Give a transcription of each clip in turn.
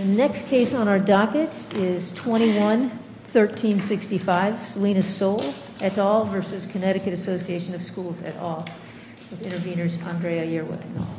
The next case on our docket is 21-1365, Selena Soule et al versus Connecticut Association of Schools et al. With intervenors Andrea Yearwood and all.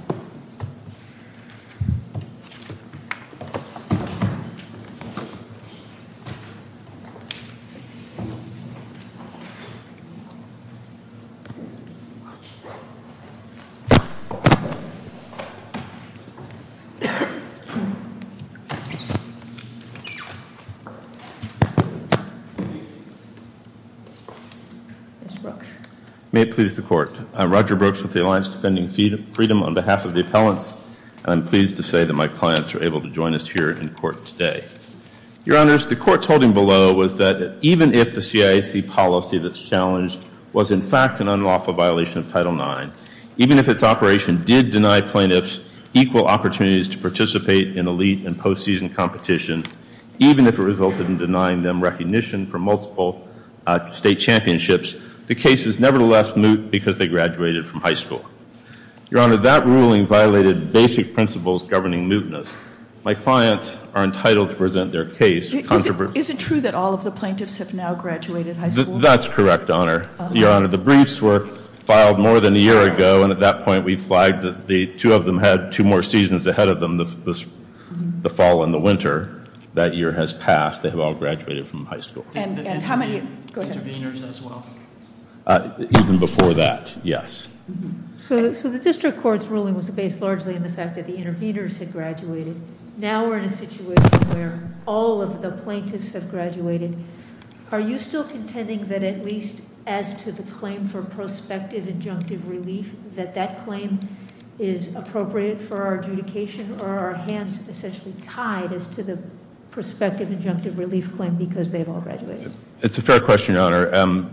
May it please the court, I'm Roger Brooks with the Alliance Defending Freedom on behalf of the appellants. I'm pleased to say that my clients are able to join us here in court today. Your honors, the court's holding below was that even if the CIAC policy that's challenged was in fact an unlawful violation of Title IX, even if its operation did deny plaintiffs equal opportunities to participate in elite and post-season competition, even if it resulted in denying them recognition for multiple state championships, the case is nevertheless moot because they graduated from high school. Your honor, that ruling violated basic principles governing mootness. My clients are entitled to present their case. Is it true that all of the plaintiffs have now graduated high school? That's correct, honor. Your honor, the briefs were filed more than a year ago, and at that point we flagged that the two of them had two more seasons ahead of them. The fall and the winter, that year has passed. They have all graduated from high school. And how many- Go ahead. Intervenors as well? Even before that, yes. So the district court's ruling was based largely on the fact that the intervenors had graduated. Now we're in a situation where all of the plaintiffs have graduated. Are you still contending that at least as to the claim for prospective injunctive relief, that that claim is appropriate for our adjudication, or are our hands essentially tied as to the prospective injunctive relief claim because they've all graduated? It's a fair question, your honor.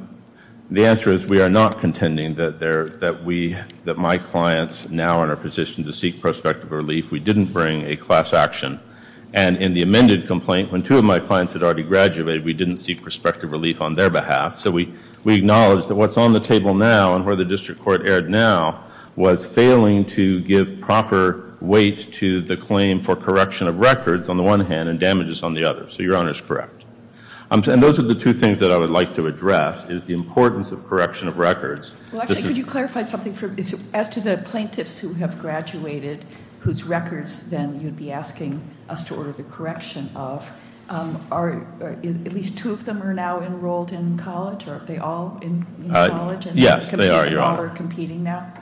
The answer is we are not contending that my clients now are in a position to seek prospective relief. We didn't bring a class action. And in the amended complaint, when two of my clients had already graduated, we didn't seek prospective relief on their behalf. So we acknowledge that what's on the table now and where the district court erred now was failing to give proper weight to the claim for correction of records on the one hand and damages on the other, so your honor's correct. And those are the two things that I would like to address, is the importance of correction of records. Well actually, could you clarify something for, as to the plaintiffs who have graduated, whose records then you'd be asking us to order the correction of, are at least two of them are now enrolled in college, or are they all in college? Yes, they are, your honor. And competing now?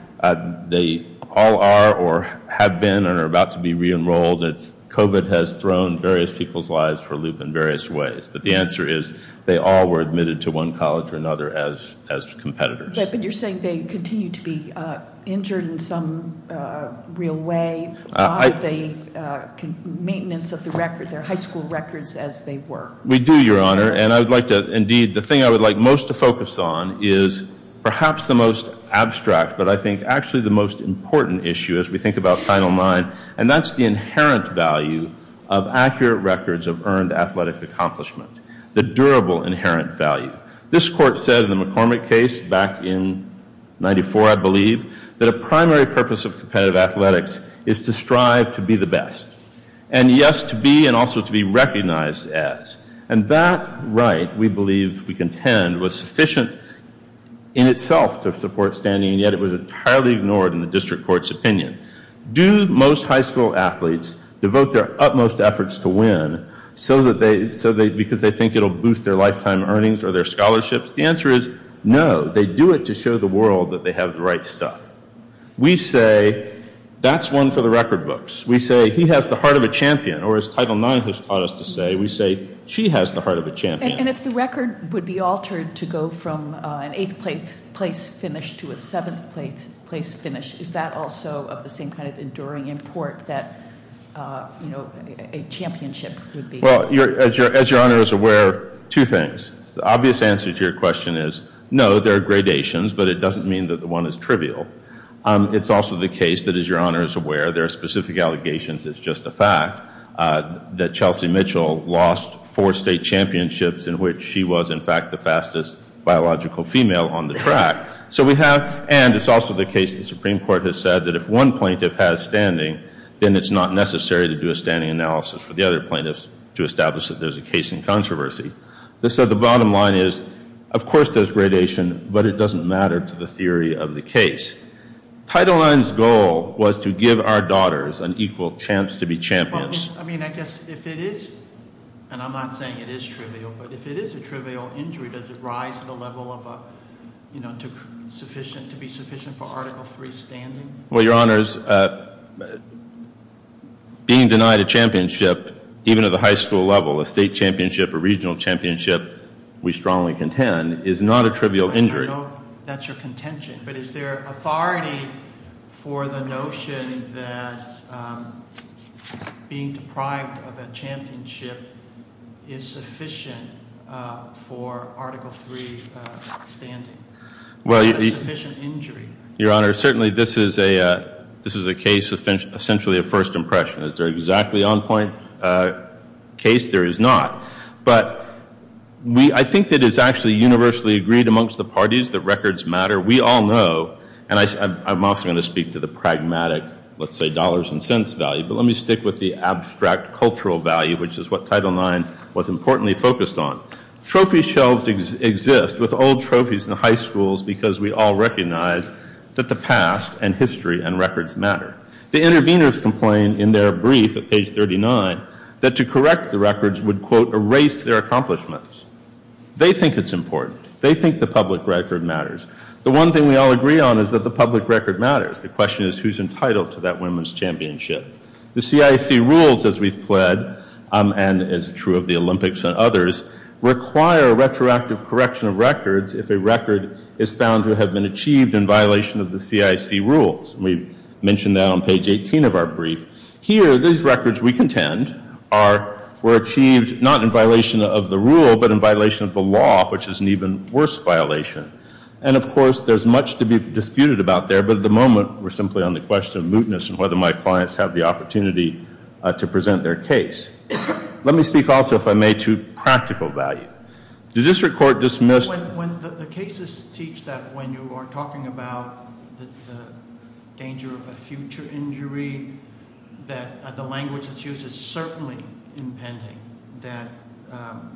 They all are or have been and are about to be re-enrolled. COVID has thrown various people's lives for a loop in various ways. But the answer is they all were admitted to one college or another as competitors. But you're saying they continue to be injured in some real way. Are they maintenance of their high school records as they were? We do, your honor. And I would like to, indeed, the thing I would like most to focus on is perhaps the most abstract, but I think actually the most important issue as we think about Title IX, and that's the inherent value of accurate records of earned athletic accomplishment. The durable inherent value. This court said in the McCormick case back in 94, I believe, that a primary purpose of competitive athletics is to strive to be the best. And yes, to be and also to be recognized as. And that right, we believe, we contend, was sufficient in itself to support standing, and yet it was entirely ignored in the district court's opinion. Do most high school athletes devote their utmost efforts to win so that because they think it'll boost their lifetime earnings or their scholarships? The answer is no, they do it to show the world that they have the right stuff. We say, that's one for the record books. We say, he has the heart of a champion, or as Title IX has taught us to say, we say, she has the heart of a champion. And if the record would be altered to go from an eighth place finish to a seventh place finish, is that also of the same kind of enduring import that a championship would be? As your honor is aware, two things. The obvious answer to your question is no, there are gradations, but it doesn't mean that the one is trivial. It's also the case that as your honor is aware, there are specific allegations, it's just a fact, that Chelsea Mitchell lost four state championships in which she was, in fact, the fastest biological female on the track. So we have, and it's also the case the Supreme Court has said that if one plaintiff has standing, then it's not necessary to do a standing analysis for the other plaintiffs to establish that there's a case in controversy. They said the bottom line is, of course there's gradation, but it doesn't matter to the theory of the case. Title IX's goal was to give our daughters an equal chance to be champions. I mean, I guess if it is, and I'm not saying it is trivial, but if it is a trivial injury, does it rise to the level of a, to be sufficient for Article III standing? Well, your honors, being denied a championship, even at the high school level, a state championship, a regional championship, we strongly contend, is not a trivial injury. I know that's your contention, but is there authority for the notion that being deprived of a championship is sufficient for Article III standing? Well, the- Not a sufficient injury. Your honor, certainly this is a case of essentially a first impression. Is there exactly on point case? There is not. But I think that it's actually universally agreed amongst the parties that records matter. We all know, and I'm also going to speak to the pragmatic, let's say dollars and cents value. But let me stick with the abstract cultural value, which is what Title IX was importantly focused on. Trophy shelves exist with old trophies in high schools because we all recognize that the past and history and records matter. The intervenors complained in their brief at page 39 that to correct the records would quote erase their accomplishments. They think it's important. They think the public record matters. The one thing we all agree on is that the public record matters. The question is who's entitled to that women's championship. The CIC rules as we've pled, and is true of the Olympics and others, require a retroactive correction of records if a record is found to have been achieved in violation of the CIC rules. We mentioned that on page 18 of our brief. Here, these records we contend were achieved not in violation of the rule, but in violation of the law, which is an even worse violation. And of course, there's much to be disputed about there. But at the moment, we're simply on the question of mootness and whether my clients have the opportunity to present their case. Let me speak also, if I may, to practical value. The district court dismissed- When the cases teach that when you are talking about the danger of a future injury, that the language that's used is certainly impending, that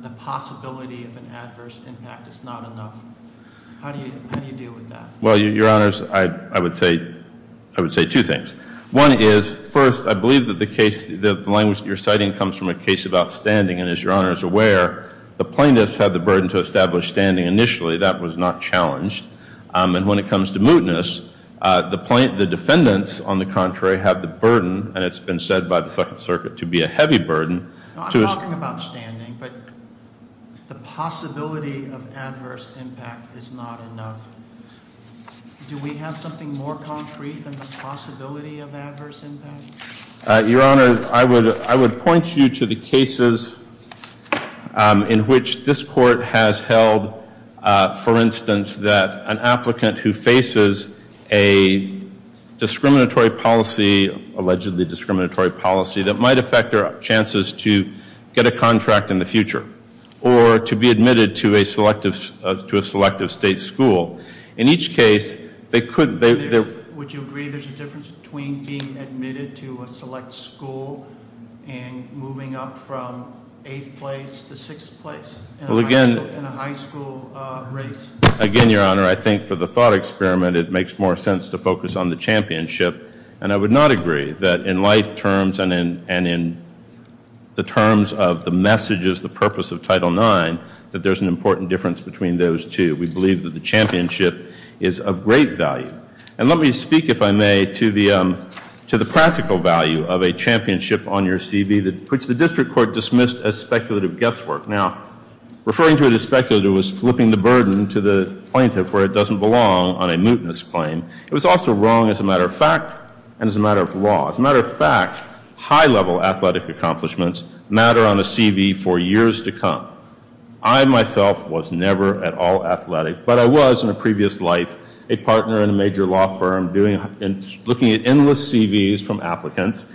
the possibility of an adverse impact is not enough. How do you deal with that? Well, your honors, I would say two things. One is, first, I believe that the language that you're citing comes from a case of outstanding, and as your honor is aware, the plaintiffs had the burden to establish standing initially, that was not challenged. And when it comes to mootness, the defendants, on the contrary, have the burden, and it's been said by the second circuit, to be a heavy burden. I'm talking about standing, but the possibility of adverse impact is not enough. Do we have something more concrete than the possibility of adverse impact? Your honor, I would point you to the cases in which this court has held, for instance, that an applicant who faces a discriminatory policy, allegedly discriminatory policy, that might affect their chances to get a contract in the future, or to be admitted to a selective state school. In each case, they could- Would you agree there's a difference between being admitted to a select school and moving up from eighth place to sixth place in a high school race? Again, your honor, I think for the thought experiment, it makes more sense to focus on the championship. And I would not agree that in life terms and in the terms of the messages, the purpose of Title IX, that there's an important difference between those two. We believe that the championship is of great value. And let me speak, if I may, to the practical value of a championship on your CV, which the district court dismissed as speculative guesswork. Now, referring to it as speculative was flipping the burden to the plaintiff where it doesn't belong on a mootness claim. It was also wrong as a matter of fact, and as a matter of law. As a matter of fact, high level athletic accomplishments matter on a CV for years to come. I myself was never at all athletic, but I was in a previous life, a partner in a major law firm looking at endless CVs from applicants.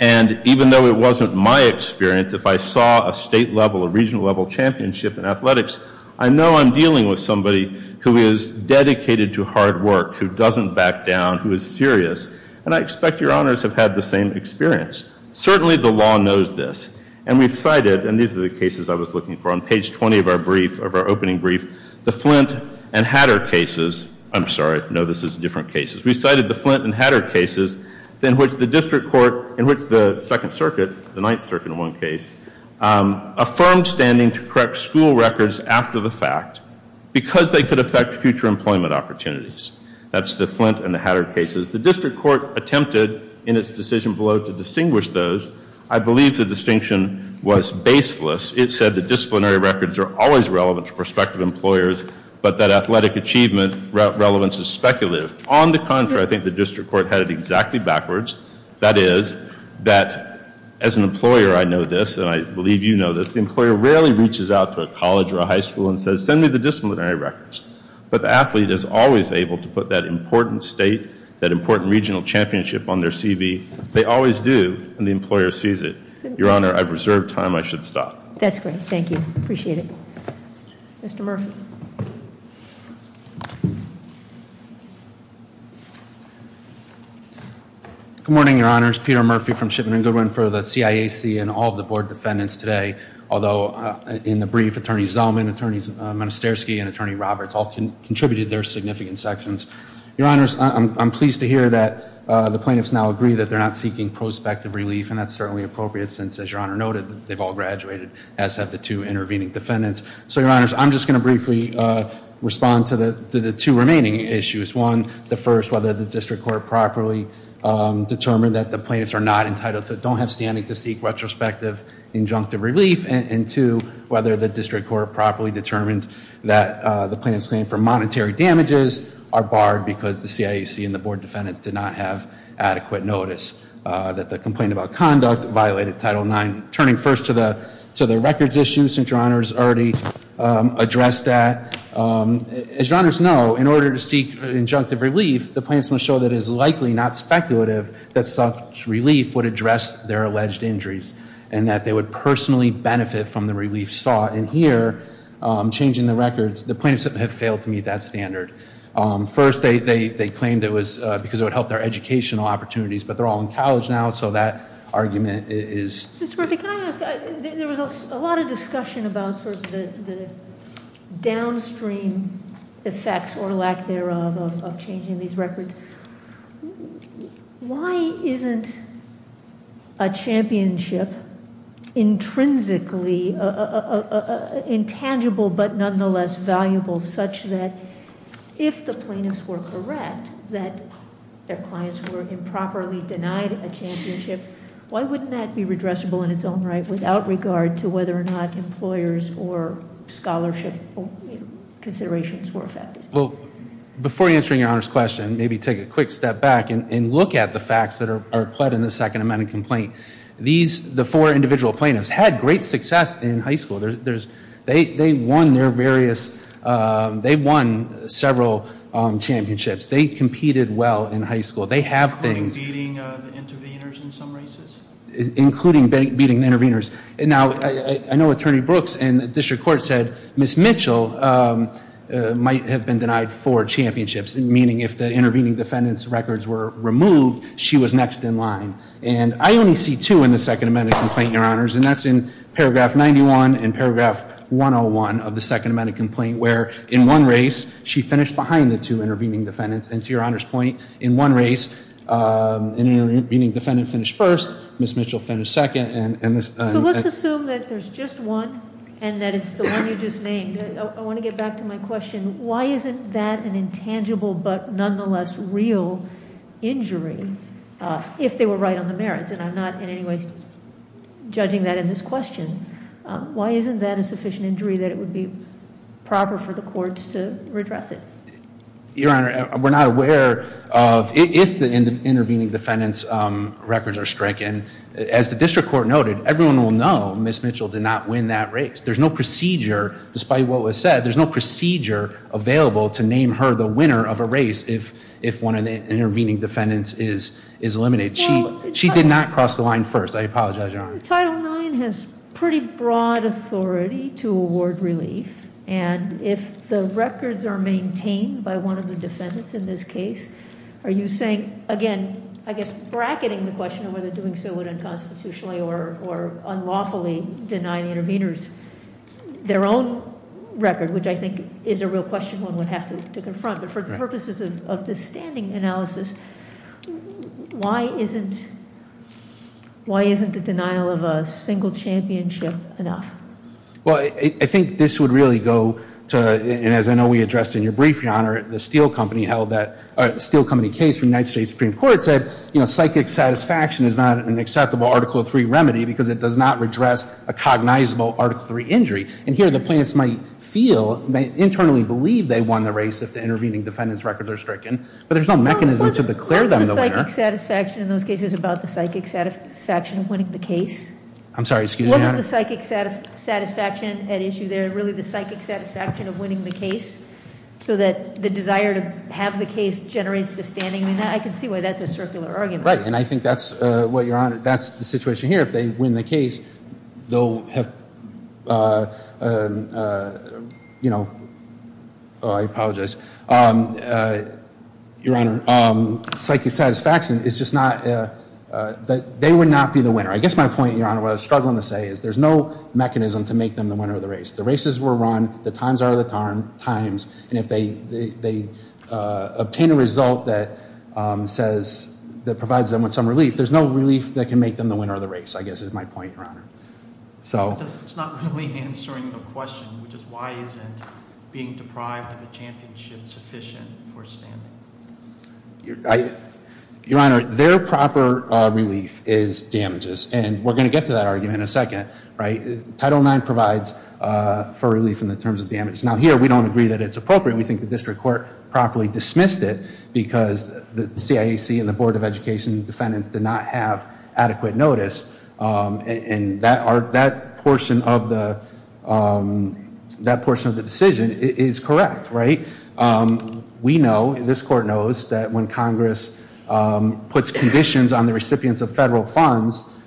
And even though it wasn't my experience, if I saw a state level or regional level championship in athletics, I know I'm dealing with somebody who is dedicated to hard work, who doesn't back down, who is serious. And I expect your honors have had the same experience. Certainly, the law knows this. And we've cited, and these are the cases I was looking for on page 20 of our opening brief, the Flint and Hatter cases. I'm sorry, no, this is different cases. We cited the Flint and Hatter cases in which the district court, in which the Second Circuit, the Ninth Circuit in one case, affirmed standing to correct school records after the fact. Because they could affect future employment opportunities. That's the Flint and the Hatter cases. The district court attempted in its decision below to distinguish those. I believe the distinction was baseless. It said the disciplinary records are always relevant to prospective employers, but that athletic achievement relevance is speculative. On the contrary, I think the district court had it exactly backwards. That is, that as an employer, I know this, and I believe you know this, the employer rarely reaches out to a college or a high school and says, send me the disciplinary records. But the athlete is always able to put that important state, that important regional championship on their CV. They always do, and the employer sees it. Your Honor, I've reserved time, I should stop. That's great, thank you, appreciate it. Mr. Murphy. Good morning, your honors. Peter Murphy from Shipman and Goodwin for the CIAC and all of the board defendants today. Although, in the brief, Attorney Zellman, Attorney Monisterski, and Attorney Roberts all contributed their significant sections. Your honors, I'm pleased to hear that the plaintiffs now agree that they're not seeking prospective relief. And that's certainly appropriate since, as your honor noted, they've all graduated, as have the two intervening defendants. So your honors, I'm just going to briefly respond to the two remaining issues. One, the first, whether the district court properly determined that the plaintiffs are not entitled to, don't have standing to seek retrospective injunctive relief, and two, whether the district court properly determined that the plaintiffs claim for monetary damages are barred because the CIAC and the board defendants did not have adequate notice. That the complaint about conduct violated Title IX, turning first to the records issue, since your honors already addressed that. As your honors know, in order to seek injunctive relief, the plaintiffs must show that it is likely not speculative that such relief would address their alleged injuries, and that they would personally benefit from the relief sought. And here, changing the records, the plaintiffs have failed to meet that standard. First, they claimed it was because it would help their educational opportunities, but they're all in college now, so that argument is- Ms. Murphy, can I ask, there was a lot of discussion about sort of the downstream effects or lack thereof of changing these records, why isn't a championship intrinsically intangible but nonetheless valuable such that if the plaintiffs were correct that their clients were improperly denied a championship, why wouldn't that be redressable in its own right without regard to whether or not employers or scholarship considerations were affected? Well, before answering your honor's question, maybe take a quick step back and look at the facts that are pled in the second amendment complaint. These, the four individual plaintiffs, had great success in high school. They won their various, they won several championships. They competed well in high school. They have things- Including beating the intervenors in some races? Including beating the intervenors. Now, I know Attorney Brooks and the district court said Ms. Mitchell might have been denied four championships, meaning if the intervening defendant's records were removed, she was next in line. And I only see two in the second amendment complaint, your honors, and that's in paragraph 91 and And to your honor's point, in one race, an intervening defendant finished first, Ms. Mitchell finished second, and this- So let's assume that there's just one and that it's the one you just named. I want to get back to my question. Why isn't that an intangible but nonetheless real injury if they were right on the merits? And I'm not in any way judging that in this question. Why isn't that a sufficient injury that it would be proper for the courts to redress it? Your honor, we're not aware of, if the intervening defendant's records are stricken. As the district court noted, everyone will know Ms. Mitchell did not win that race. There's no procedure, despite what was said, there's no procedure available to name her the winner of a race if one of the intervening defendants is eliminated. She did not cross the line first. I apologize, your honor. Title IX has pretty broad authority to award relief. And if the records are maintained by one of the defendants in this case, are you saying, again, I guess bracketing the question of whether doing so would unconstitutionally or unlawfully deny the interveners their own record, which I think is a real question one would have to confront, but for the purposes of this standing analysis, why isn't the denial of a single championship enough? Well, I think this would really go to, and as I know we addressed in your brief, your honor, the Steel Company case from the United States Supreme Court said, psychic satisfaction is not an acceptable Article III remedy, because it does not redress a cognizable Article III injury. And here, the plaintiffs might feel, may internally believe they won the race if the intervening defendant's records are stricken, but there's no mechanism to declare them the winner. Wasn't the psychic satisfaction in those cases about the psychic satisfaction of winning the case? I'm sorry, excuse me, your honor. Wasn't the psychic satisfaction at issue there, really the psychic satisfaction of winning the case? So that the desire to have the case generates the standing, I mean, I can see why that's a circular argument. Right, and I think that's what your honor, that's the situation here. If they win the case, they'll have, you know, I apologize, your honor. Psychic satisfaction is just not, they would not be the winner. I guess my point, your honor, what I was struggling to say is there's no mechanism to make them the winner of the race. The races were run, the times are the times, and if they obtain a result that says, that provides them with some relief, there's no relief that can make them the winner of the race, I guess is my point, your honor. So- It's not really answering the question, which is why isn't being deprived of a championship sufficient for standing? Your honor, their proper relief is damages, and we're going to get to that argument in a second, right? Title IX provides for relief in the terms of damage. Now here, we don't agree that it's appropriate. We think the district court properly dismissed it because the CIAC and the Board of Education defendants did not have adequate notice, and that portion of the decision is correct, right? We know, this court knows, that when Congress puts conditions on the recipients of federal funds,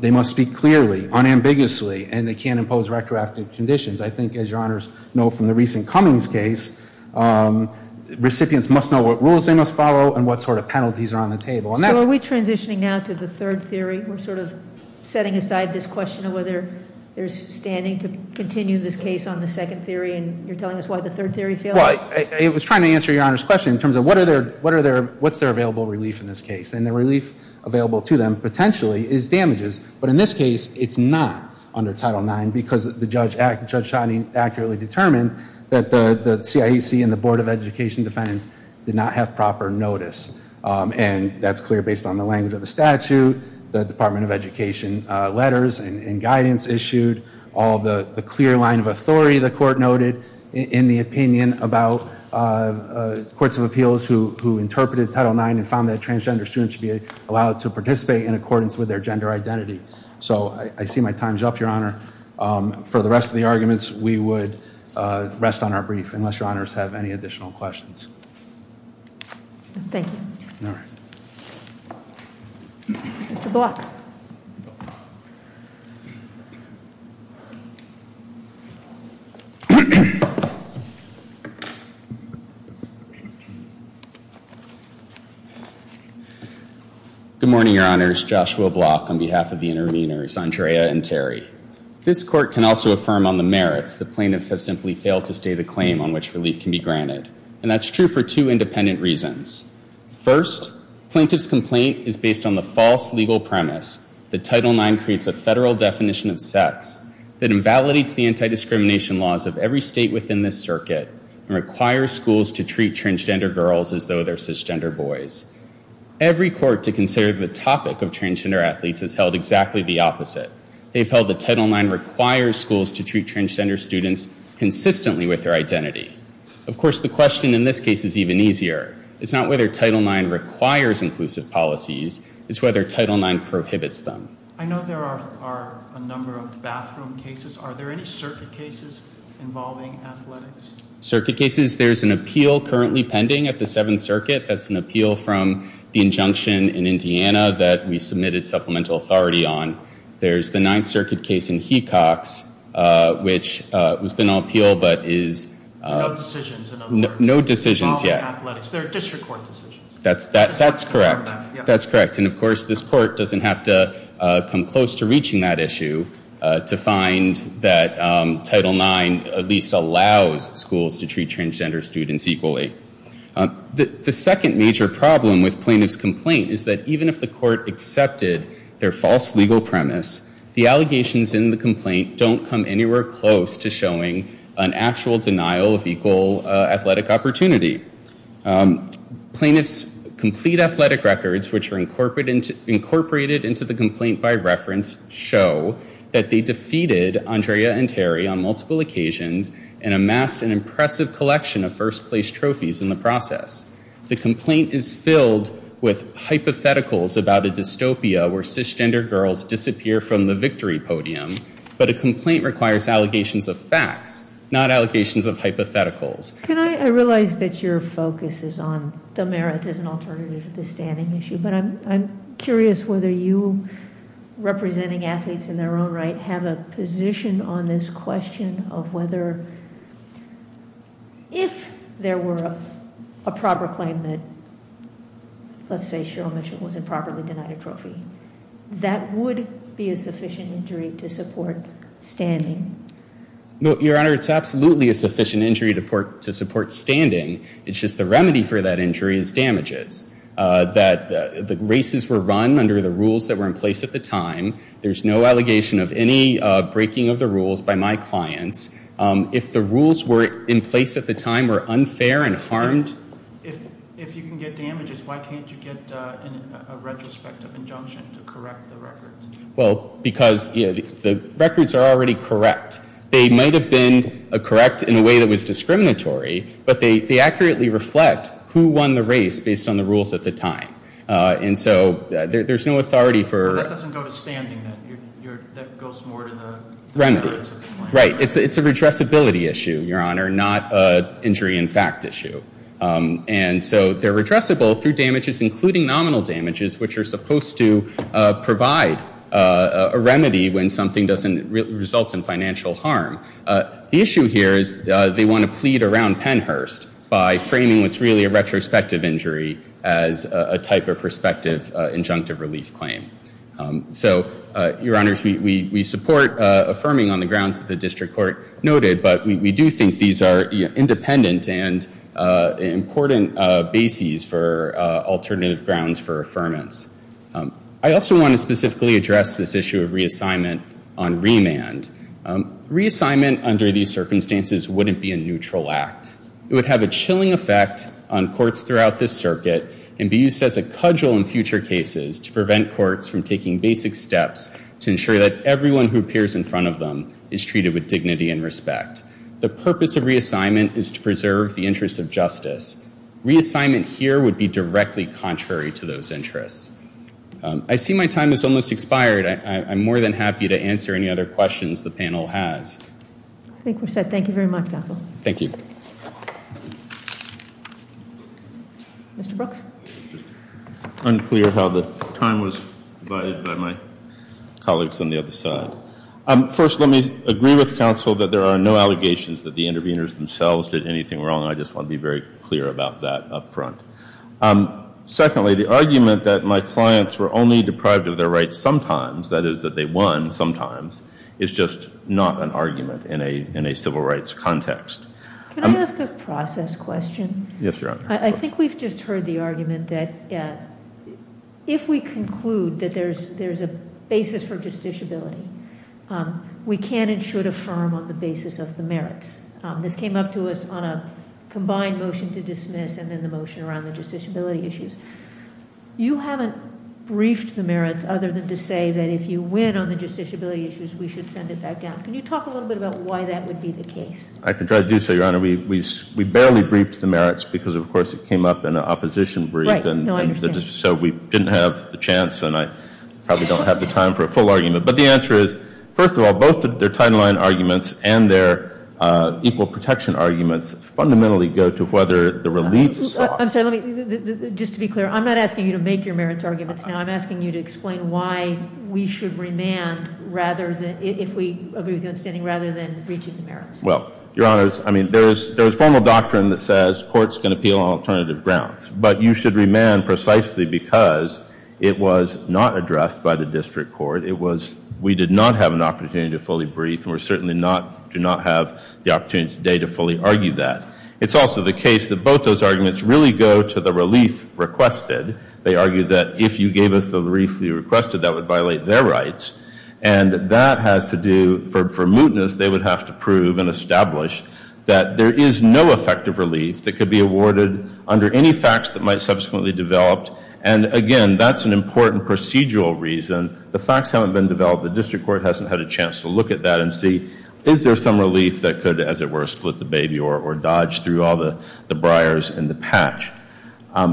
they must speak clearly, unambiguously, and they can't impose retroactive conditions. I think, as your honors know from the recent Cummings case, recipients must know what rules they must follow and what sort of penalties are on the table. And that's- So are we transitioning now to the third theory? We're sort of setting aside this question of whether there's standing to continue this case on the second theory, and you're telling us why the third theory failed? I was trying to answer your honor's question in terms of what's their available relief in this case? And the relief available to them, potentially, is damages. But in this case, it's not under Title IX because Judge Shining accurately determined that the CIAC and the Board of Education defendants did not have proper notice. And that's clear based on the language of the statute, the Department of Education letters and about courts of appeals who interpreted Title IX and found that transgender students should be allowed to participate in accordance with their gender identity. So, I see my time's up, your honor. For the rest of the arguments, we would rest on our brief, unless your honors have any additional questions. Thank you. All right. Mr. Block. Good morning, your honors. Joshua Block on behalf of the interveners, Andrea and Terry. This court can also affirm on the merits that plaintiffs have simply failed to stay the claim on which relief can be granted. And that's true for two independent reasons. First, plaintiff's complaint is based on the false legal premise that Title IX creates a federal definition of sex that invalidates the anti-discrimination laws of every state within this circuit and requires schools to treat transgender girls as though they're cisgender boys. Every court to consider the topic of transgender athletes has held exactly the opposite. They've held that Title IX requires schools to treat transgender students consistently with their identity. Of course, the question in this case is even easier. It's not whether Title IX requires inclusive policies, it's whether Title IX prohibits them. I know there are a number of bathroom cases. Are there any circuit cases involving athletics? Circuit cases, there's an appeal currently pending at the Seventh Circuit. That's an appeal from the injunction in Indiana that we submitted supplemental authority on. There's the Ninth Circuit case in Hecox, which has been on appeal, but is- No decisions, in other words. No decisions, yeah. Involving athletics. They're district court decisions. That's correct. That's correct. And of course, this court doesn't have to come close to reaching that issue to find that Title IX at least allows schools to treat transgender students equally. The second major problem with plaintiff's complaint is that even if the court accepted their false legal premise, the allegations in the complaint don't come anywhere close to showing an actual denial of equal athletic opportunity. Plaintiff's complete athletic records, which are incorporated into the complaint by reference, show that they defeated Andrea and Terry on multiple occasions and amassed an impressive collection of first place trophies in the process. The complaint is filled with hypotheticals about a dystopia where cisgender girls disappear from the victory podium. But a complaint requires allegations of facts, not allegations of hypotheticals. Can I, I realize that your focus is on the merits as an alternative to the standing issue, but I'm curious whether you, representing athletes in their own right, have a position on this question of whether, if there were a proper claim that, let's say Cheryl Mitchell wasn't properly denied a trophy, that would be a sufficient injury to support standing? No, your honor, it's absolutely a sufficient injury to support standing. It's just the remedy for that injury is damages. That the races were run under the rules that were in place at the time. There's no allegation of any breaking of the rules by my clients. If the rules were in place at the time were unfair and harmed. If you can get damages, why can't you get a retrospective injunction to correct the record? Well, because the records are already correct. They might have been correct in a way that was discriminatory, but they accurately reflect who won the race based on the rules at the time. And so there's no authority for- But that doesn't go to standing, that goes more to the- Remedy. Right, it's a redressability issue, your honor, not a injury in fact issue. And so they're redressable through damages, including nominal damages, which are supposed to provide a remedy when something doesn't result in financial harm. The issue here is they want to plead around Pennhurst by framing what's really a retrospective injury as a type of prospective injunctive relief claim. So, your honors, we support affirming on the grounds that the district court noted. But we do think these are independent and important bases for alternative grounds for affirmance. I also want to specifically address this issue of reassignment on remand. Reassignment under these circumstances wouldn't be a neutral act. It would have a chilling effect on courts throughout this circuit and be used as a cudgel in future cases to prevent courts from taking basic steps to ensure that everyone who appears in front of them is treated with dignity and respect. The purpose of reassignment is to preserve the interest of justice. Reassignment here would be directly contrary to those interests. I see my time has almost expired. I'm more than happy to answer any other questions the panel has. I think we're set. Thank you very much, counsel. Thank you. Mr. Brooks? Unclear how the time was divided by my colleagues on the other side. First, let me agree with counsel that there are no allegations that the interveners themselves did anything wrong. I just want to be very clear about that up front. Secondly, the argument that my clients were only deprived of their rights sometimes, that is that they won sometimes, is just not an argument in a civil rights context. Can I ask a process question? Yes, your honor. I think we've just heard the argument that if we conclude that there's a basis for justiciability, we can and should affirm on the basis of the merits. This came up to us on a combined motion to dismiss and then the motion around the justiciability issues. You haven't briefed the merits other than to say that if you win on the justiciability issues, we should send it back down. Can you talk a little bit about why that would be the case? I can try to do so, your honor. We barely briefed the merits because of course it came up in an opposition brief. Right, no, I understand. So we didn't have the chance and I probably don't have the time for a full argument. But the answer is, first of all, both of their timeline arguments and their equal protection arguments fundamentally go to whether the reliefs- I'm sorry, let me, just to be clear, I'm not asking you to make your merits arguments now. I'm asking you to explain why we should remand rather than, if we agree with your understanding, rather than reaching the merits. Well, your honors, I mean, there's formal doctrine that says courts can appeal on alternative grounds. But you should remand precisely because it was not addressed by the district court. It was, we did not have an opportunity to fully brief, and we certainly do not have the opportunity today to fully argue that. It's also the case that both those arguments really go to the relief requested. They argue that if you gave us the relief you requested, that would violate their rights. And that has to do, for mootness, they would have to prove and be awarded under any facts that might subsequently developed. And again, that's an important procedural reason. The facts haven't been developed. The district court hasn't had a chance to look at that and see, is there some relief that could, as it were, split the baby or dodge through all the briars in the patch?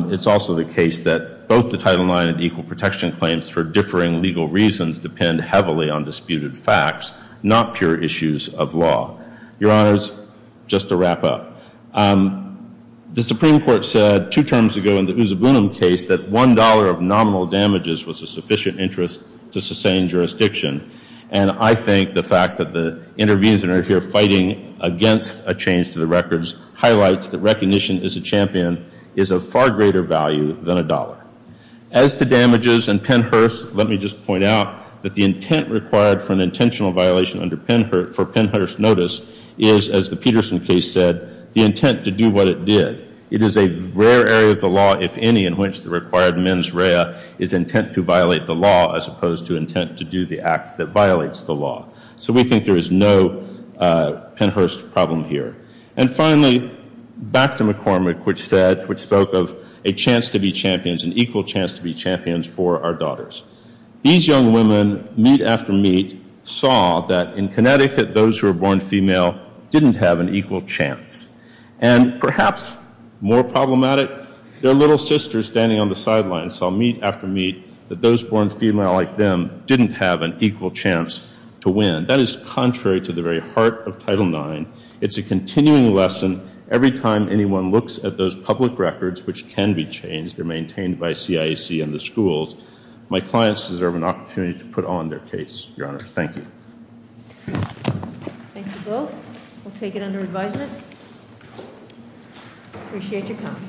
It's also the case that both the title nine and equal protection claims for differing legal reasons depend heavily on disputed facts, not pure issues of law. Your honors, just to wrap up, the Supreme Court said two terms ago in the Usabunum case that $1 of nominal damages was a sufficient interest to sustain jurisdiction. And I think the fact that the interviewees that are here fighting against a change to the records highlights that recognition as a champion is of far greater value than a dollar. As to damages and Pennhurst, let me just point out that the intent required for an intentional violation under Pennhurst notice is, as the Peterson case said, the intent to do what it did. It is a rare area of the law, if any, in which the required mens rea is intent to violate the law, as opposed to intent to do the act that violates the law. So we think there is no Pennhurst problem here. And finally, back to McCormick, which spoke of a chance to be champions, an equal chance to be champions for our daughters. These young women, meet after meet, saw that in Connecticut, those who are born female didn't have an equal chance. And perhaps more problematic, their little sisters standing on the sidelines saw meet after meet that those born female like them didn't have an equal chance to win. That is contrary to the very heart of Title IX. It's a continuing lesson every time anyone looks at those public records which can be changed or maintained by CIEC and the schools. My clients deserve an opportunity to put on their case, your honors. Thank you. Thank you both. We'll take it under advisement. Appreciate your time.